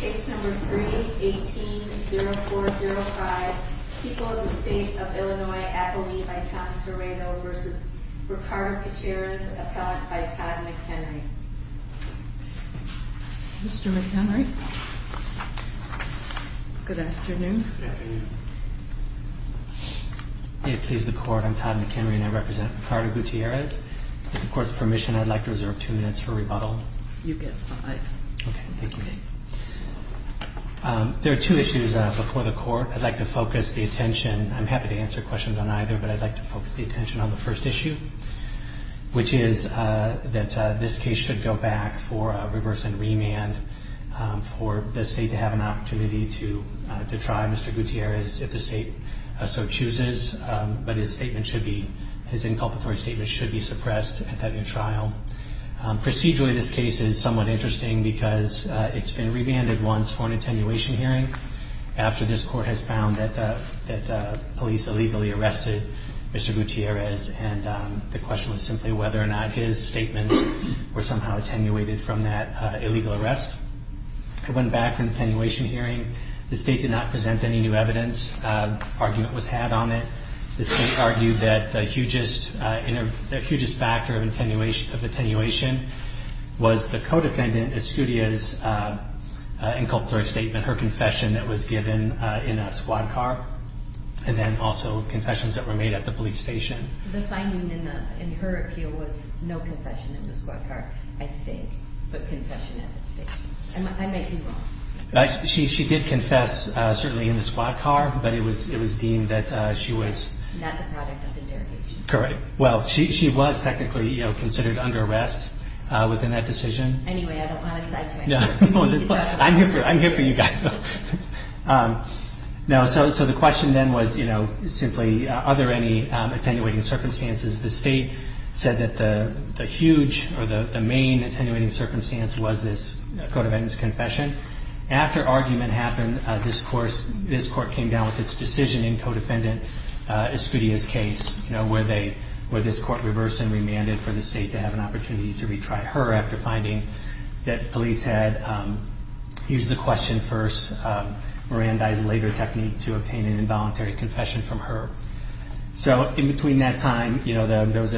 Case number 3-18-0405. People of the State of Illinois, Appalachia, by Tom Sereno v. Ricardo Gutierrez, appellant by Todd McHenry. Mr. McHenry. Good afternoon. Good afternoon. May it please the Court, I'm Todd McHenry and I represent Ricardo Gutierrez. With the Court's permission, I'd like to reserve two minutes for rebuttal. You get five. Okay, thank you. There are two issues before the Court. I'd like to focus the attention, I'm happy to answer questions on either, but I'd like to focus the attention on the first issue, which is that this case should go back for a reverse and remand for the State to have an opportunity to try Mr. Gutierrez if the State so chooses. But his inculpatory statement should be suppressed at that new trial. Procedurally, this case is somewhat interesting because it's been remanded once for an attenuation hearing, after this Court has found that the police illegally arrested Mr. Gutierrez, and the question was simply whether or not his statements were somehow attenuated from that illegal arrest. It went back for an attenuation hearing. The State did not present any new evidence. Argument was had on it. The State argued that the hugest factor of attenuation was the co-defendant Estudia's inculpatory statement, her confession that was given in a squad car, and then also confessions that were made at the police station. The finding in her appeal was no confession in the squad car, I think, but confession at the station. I might be wrong. She did confess, certainly in the squad car, but it was deemed that she was... Not the product of the derogation. Correct. Well, she was technically considered under arrest within that decision. Anyway, I don't want to sidetrack. I'm here for you guys. So the question then was simply, are there any attenuating circumstances? The State said that the huge or the main attenuating circumstance was this co-defendant's confession. After argument happened, this Court came down with its decision in co-defendant Estudia's case, where this Court reversed and remanded for the State to have an opportunity to retry her after finding that police had used the question first, Miranda's later technique to obtain an involuntary confession from her. So in between that time, there was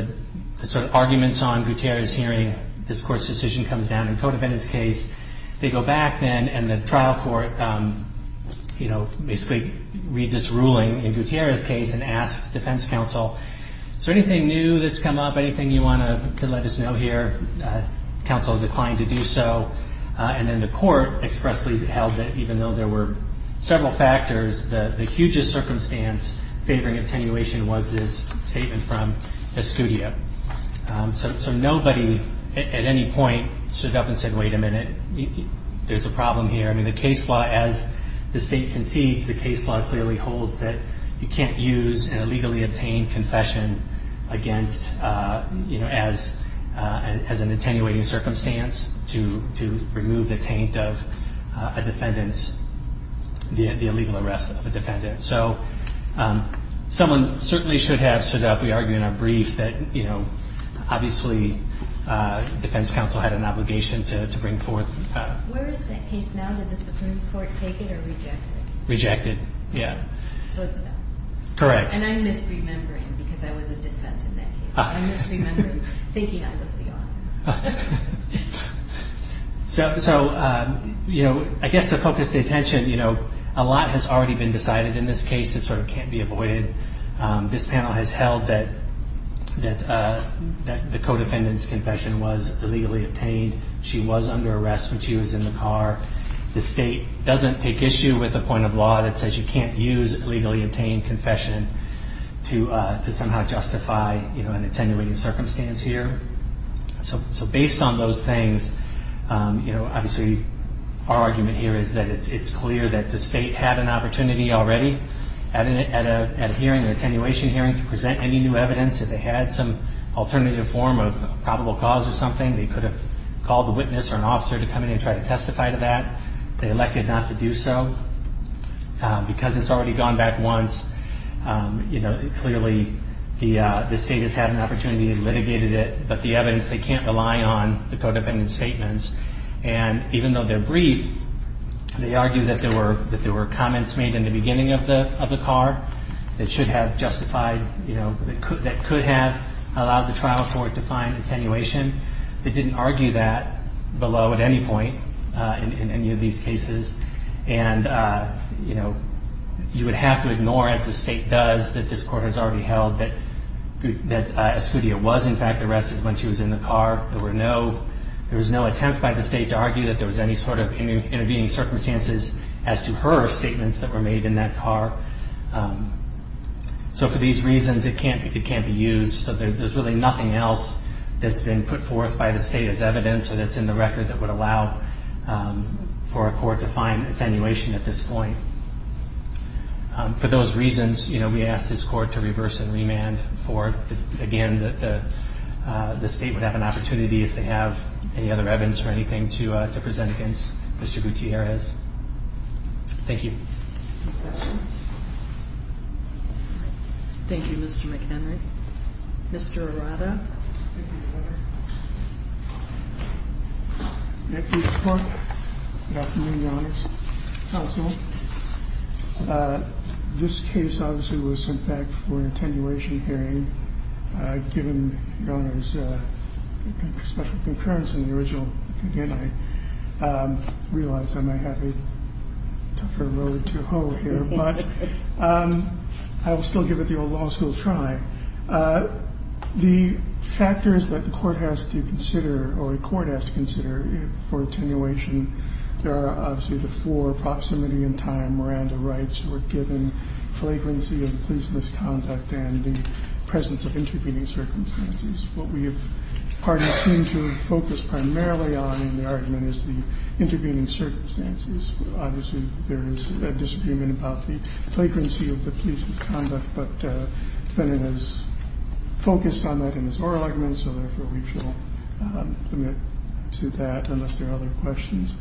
sort of arguments on Gutierrez's hearing. This Court's decision comes down in co-defendant's case. They go back then, and the trial court basically reads its ruling in Gutierrez's case and asks defense counsel, is there anything new that's come up, anything you want to let us know here? Counsel declined to do so. And then the Court expressly held that even though there were several factors, the hugest circumstance favoring attenuation was this statement from Estudia. So nobody at any point stood up and said, wait a minute, there's a problem here. I mean, the case law, as the State concedes, the case law clearly holds that you can't use an illegally obtained confession against, you know, as an attenuating circumstance to remove the taint of a defendant's, the illegal arrest of a defendant. So someone certainly should have stood up. We argue in our brief that, you know, obviously defense counsel had an obligation to bring forth. Where is that case now? Did the Supreme Court take it or reject it? Rejected. Yeah. So it's a no. Correct. And I'm misremembering because I was a dissent in that case. I'm misremembering thinking I was the owner. So, you know, I guess the focus of attention, you know, a lot has already been decided in this case. It sort of can't be avoided. This panel has held that the co-defendant's confession was illegally obtained. She was under arrest when she was in the car. The state doesn't take issue with a point of law that says you can't use illegally obtained confession to somehow justify, you know, an attenuating circumstance here. So based on those things, you know, obviously our argument here is that it's clear that the state had an opportunity already at a hearing, an attenuation hearing, to present any new evidence. If they had some alternative form of probable cause or something, they could have called a witness or an officer to come in and try to testify to that. They elected not to do so. Because it's already gone back once, you know, clearly the state has had an opportunity, has litigated it, but the evidence they can't rely on, the co-defendant's statements. And even though they're brief, they argue that there were comments made in the beginning of the car that should have justified, you know, that could have allowed the trial court to find attenuation. It didn't argue that below at any point in any of these cases. And, you know, you would have to ignore, as the state does, that this court has already held, that Escudia was in fact arrested when she was in the car. There was no attempt by the state to argue that there was any sort of intervening circumstances as to her statements that were made in that car. So for these reasons, it can't be used. So there's really nothing else that's been put forth by the state as evidence or that's in the record that would allow for a court to find attenuation at this point. For those reasons, you know, we ask this court to reverse and remand for, again, that the state would have an opportunity, if they have any other evidence or anything, to present against Mr. Gutierrez. Thank you. Any questions? Thank you, Mr. McHenry. Mr. Arada. Thank you, Your Honor. Good afternoon, Your Honor. Counsel. This case obviously was sent back for an attenuation hearing. Given Your Honor's special concurrence in the original opinion, I realize I might have a tougher road to hoe here, but I will still give it the old law school try. The factors that the court has to consider or a court has to consider for attenuation, there are obviously the floor, proximity, and time. Miranda writes, we're given flagrancy of police misconduct and the presence of intervening circumstances. What we seem to focus primarily on in the argument is the intervening circumstances. Obviously, there is a disagreement about the flagrancy of the police misconduct, but the defendant has focused on that in his oral argument, so therefore we shall omit to that unless there are other questions.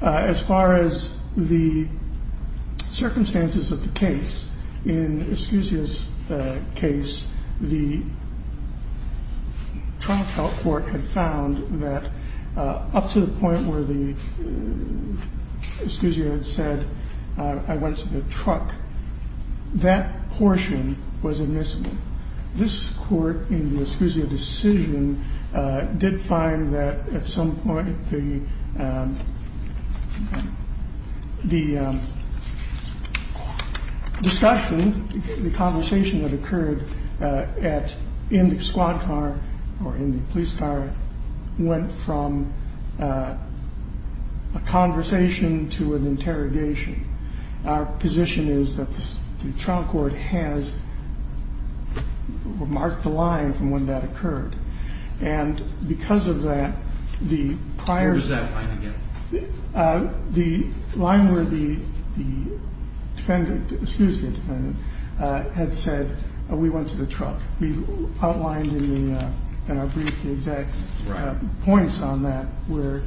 As far as the circumstances of the case, in Escuzia's case, the trial court had found that up to the point where the Escuzia had said, I went to the truck, that portion was admissible. This court in the Escuzia decision did find that at some point the discussion the conversation that occurred in the squad car or in the police car went from a conversation to an interrogation. Our position is that the trial court has marked the line from when that occurred, and because of that, the prior... Where is that line again? The line where the defendant, the Escuzia defendant, had said, we went to the truck. We've outlined in our brief the exact points on that where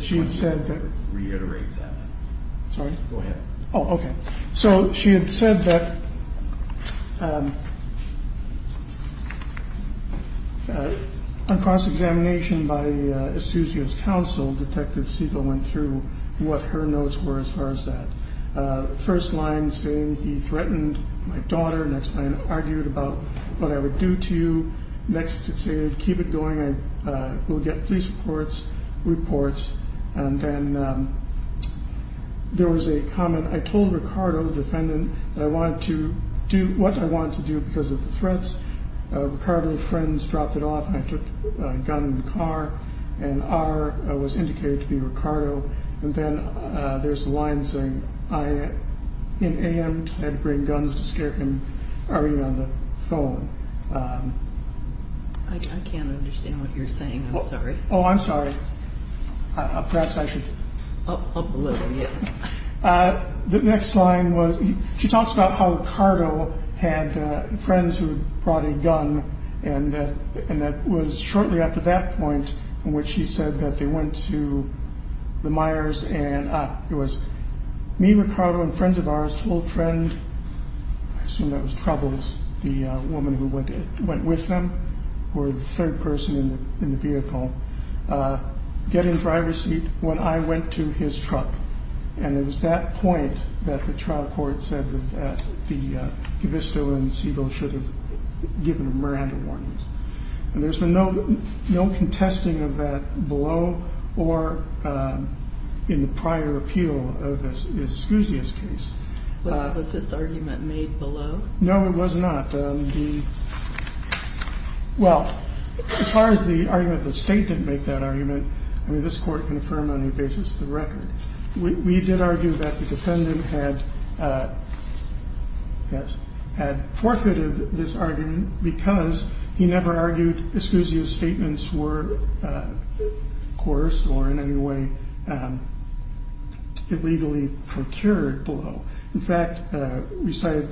she had said that... I just want you to reiterate that. Sorry? Go ahead. Oh, okay. So she had said that on cross-examination by Escuzia's counsel, Detective Segal went through what her notes were as far as that. First line saying he threatened my daughter. Next line argued about what I would do to you. Next it said, keep it going. We'll get police reports. And then there was a comment. I told Ricardo, the defendant, that I wanted to do what I wanted to do because of the threats. Ricardo and friends dropped it off, and I took a gun in the car, and R was indicated to be Ricardo. And then there's the line saying, in am, I had to bring guns to scare him. Are you on the phone? I can't understand what you're saying. I'm sorry. Oh, I'm sorry. Perhaps I could... Oh, a little, yes. The next line was she talks about how Ricardo had friends who had brought a gun, and that was shortly after that point in which he said that they went to the Myers, and it was me, Ricardo, and friends of ours told friend, I assume that was Troubles, the woman who went with them, who were the third person in the vehicle, get in driver's seat when I went to his truck. And it was that point that the trial court said that the Gavisto and Siebel should have given Miranda warnings. And there's been no contesting of that below or in the prior appeal of Escuzia's case. Was this argument made below? No, it was not. Well, as far as the argument that the state didn't make that argument, I mean, this court confirmed on the basis of the record. We did argue that the defendant had forfeited this argument because he never argued Escuzia's statements were, of course, or in any way illegally procured below. In fact, we cited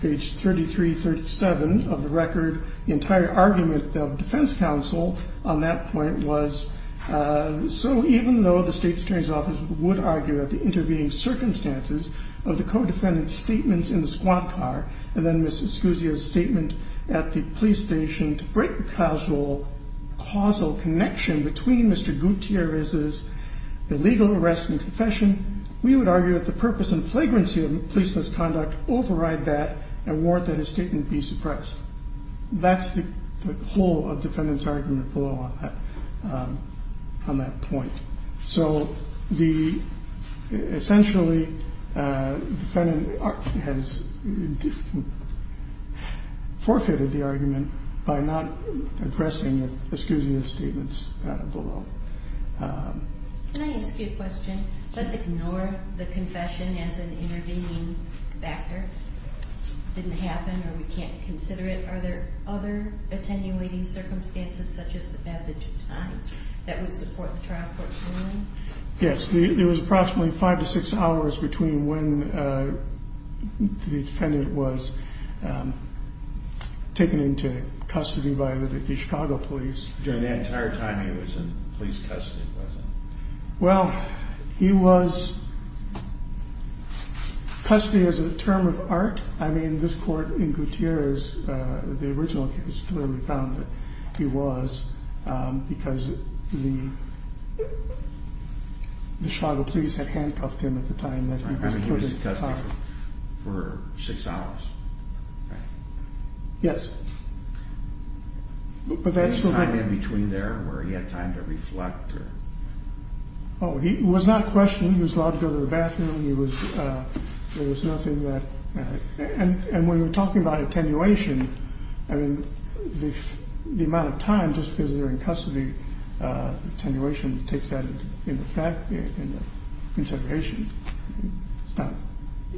page 3337 of the record. The entire argument of defense counsel on that point was, so even though the state attorney's office would argue that the intervening circumstances of the co-defendant's statements in the squat car and then Ms. Escuzia's statement at the police station to break the causal connection between Mr. Gutierrez's illegal arrest and confession, we would argue that the purpose and flagrancy of police misconduct override that and warrant that his statement be suppressed. That's the whole of the defendant's argument below on that point. So essentially, the defendant has forfeited the argument by not addressing Escuzia's statements below. Can I ask you a question? Let's ignore the confession as an intervening factor. It didn't happen or we can't consider it. Are there other attenuating circumstances such as the passage of time that would support the trial court's ruling? Yes. There was approximately five to six hours between when the defendant was taken into custody by the Chicago police. During the entire time he was in police custody, was it? Well, he was custody as a term of art. I mean, this court in Gutierrez, the original case, clearly found that he was because the Chicago police had handcuffed him at the time. He was in custody for six hours. Yes. Was there time in between there where he had time to reflect? Oh, he was not questioned. He was allowed to go to the bathroom. There was nothing that mattered. And when you're talking about attenuation, I mean, the amount of time, just because they're in custody, attenuation takes that into consideration.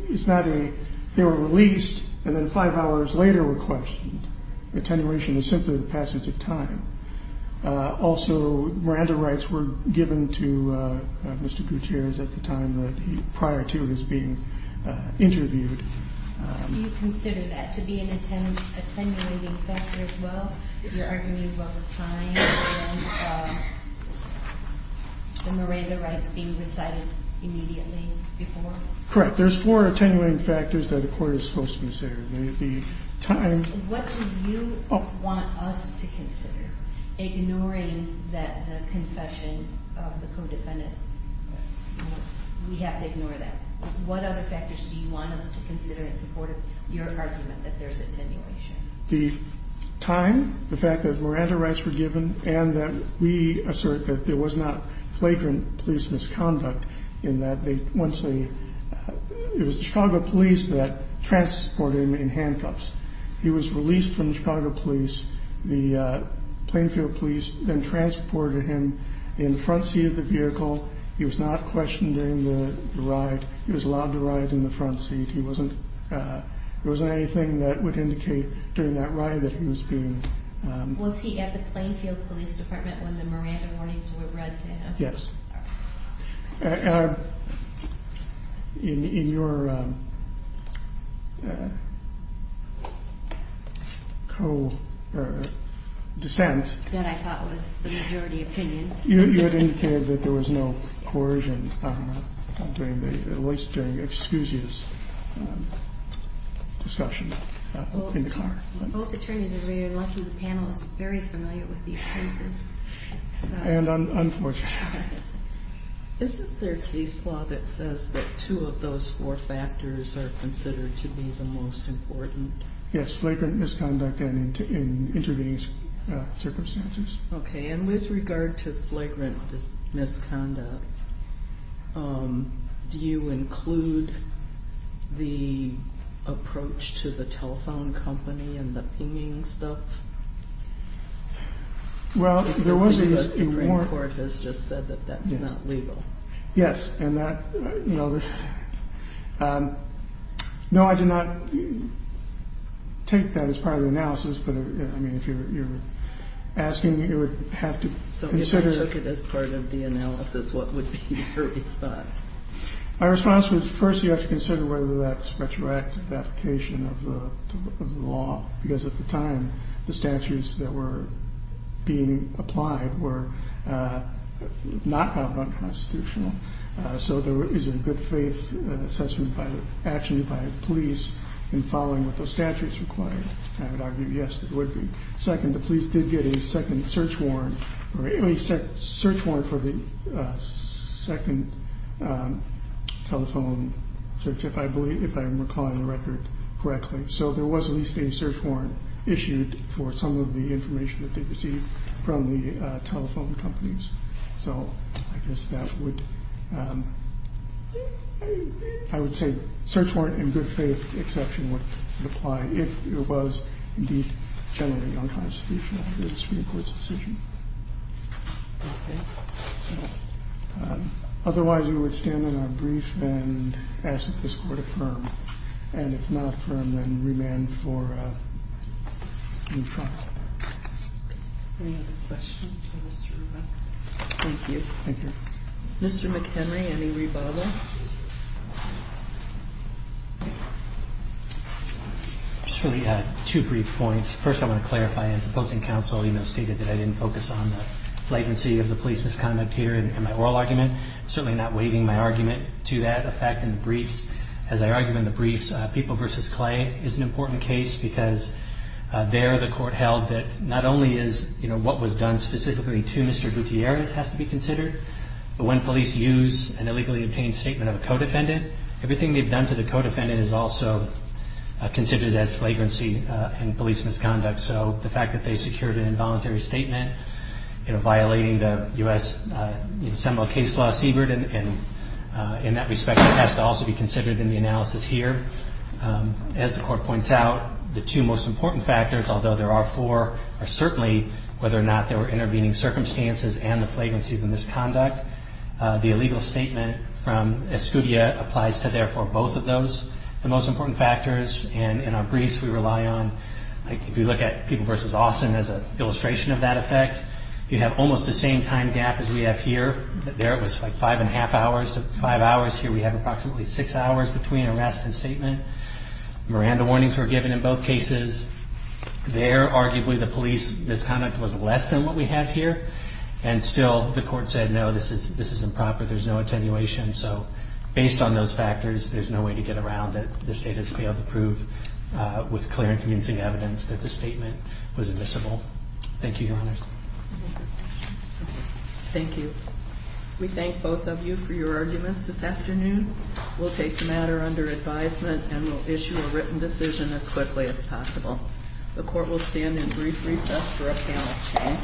It's not a they were released and then five hours later were questioned. Attenuation is simply the passage of time. Also, Miranda rights were given to Mr. Gutierrez at the time prior to his being interviewed. Do you consider that to be an attenuating factor as well? You're arguing about the time and the Miranda rights being recited immediately before? Correct. There's four attenuating factors that a court is supposed to consider. What do you want us to consider, ignoring the confession of the co-defendant? We have to ignore that. What other factors do you want us to consider in support of your argument that there's attenuation? The time, the fact that Miranda rights were given, and that we assert that there was not flagrant police misconduct in that once they it was the Chicago police that transported him in handcuffs. He was released from the Chicago police. The Plainfield police then transported him in the front seat of the vehicle. He was not questioned during the ride. He was allowed to ride in the front seat. There wasn't anything that would indicate during that ride that he was being Was he at the Plainfield police department when the Miranda warnings were read to him? Yes. In your co-dissent That I thought was the majority opinion You had indicated that there was no coercion, at least during Excusia's discussion Both attorneys are very lucky. The panel is very familiar with these cases. And unfortunate. Isn't there a case law that says that two of those four factors are considered to be the most important? Yes, flagrant misconduct and intervening circumstances. Okay. And with regard to flagrant misconduct. Do you include the approach to the telephone company and the pinging stuff? Well, there was a court has just said that that's not legal. Yes. And that, you know, no, I did not take that as part of the analysis. But, I mean, if you're asking, you would have to consider it as part of the analysis. What would be your response? My response was, first, you have to consider whether that's retroactive application of the law. Because at the time, the statutes that were being applied were not found unconstitutional. So there is a good faith assessment by actually by police in following with the statutes required. I would argue, yes, it would be. Second, the police did get a second search warrant or a search warrant for the second telephone search, if I'm recalling the record correctly. So there was at least a search warrant issued for some of the information that they received from the telephone companies. So I guess that would, I would say search warrant and good faith exception would apply if it was indeed generally unconstitutional under the Supreme Court's decision. Okay. So otherwise, we would stand on our brief and ask that this Court affirm. And if not affirm, then remand for new trial. Any other questions for Mr. McHenry? Thank you. Thank you. Mr. McHenry, any rebuttal? Just really two brief points. First, I want to clarify. As the opposing counsel stated that I didn't focus on the flagrancy of the police misconduct here in my oral argument. I'm certainly not waiving my argument to that effect in the briefs. As I argue in the briefs, People v. Clay is an important case because there the Court held that not only is what was done specifically to Mr. Gutierrez has to be considered, but when police use an illegally obtained statement of a co-defendant, everything they've done to the co-defendant is also considered as flagrancy in police misconduct. So the fact that they secured an involuntary statement, you know, violating the U.S. Seminole case law, Siebert, and in that respect, it has to also be considered in the analysis here. As the Court points out, the two most important factors, although there are four, are certainly whether or not there were intervening circumstances and the flagrancy of the misconduct. The illegal statement from Escudia applies to, therefore, both of those, the most important factors. And in our briefs, we rely on, like if you look at People v. Austin as an illustration of that effect, you have almost the same time gap as we have here. There it was like five and a half hours to five hours. Here we have approximately six hours between arrest and statement. Miranda warnings were given in both cases. There, arguably, the police misconduct was less than what we have here. And still, the Court said, no, this is improper. There's no attenuation. So based on those factors, there's no way to get around it. The State has failed to prove with clear and convincing evidence that the statement was admissible. Thank you, Your Honors. Thank you. We thank both of you for your arguments this afternoon. We'll take the matter under advisement and we'll issue a written decision as quickly as possible. The Court will stand in brief recess for a panel change.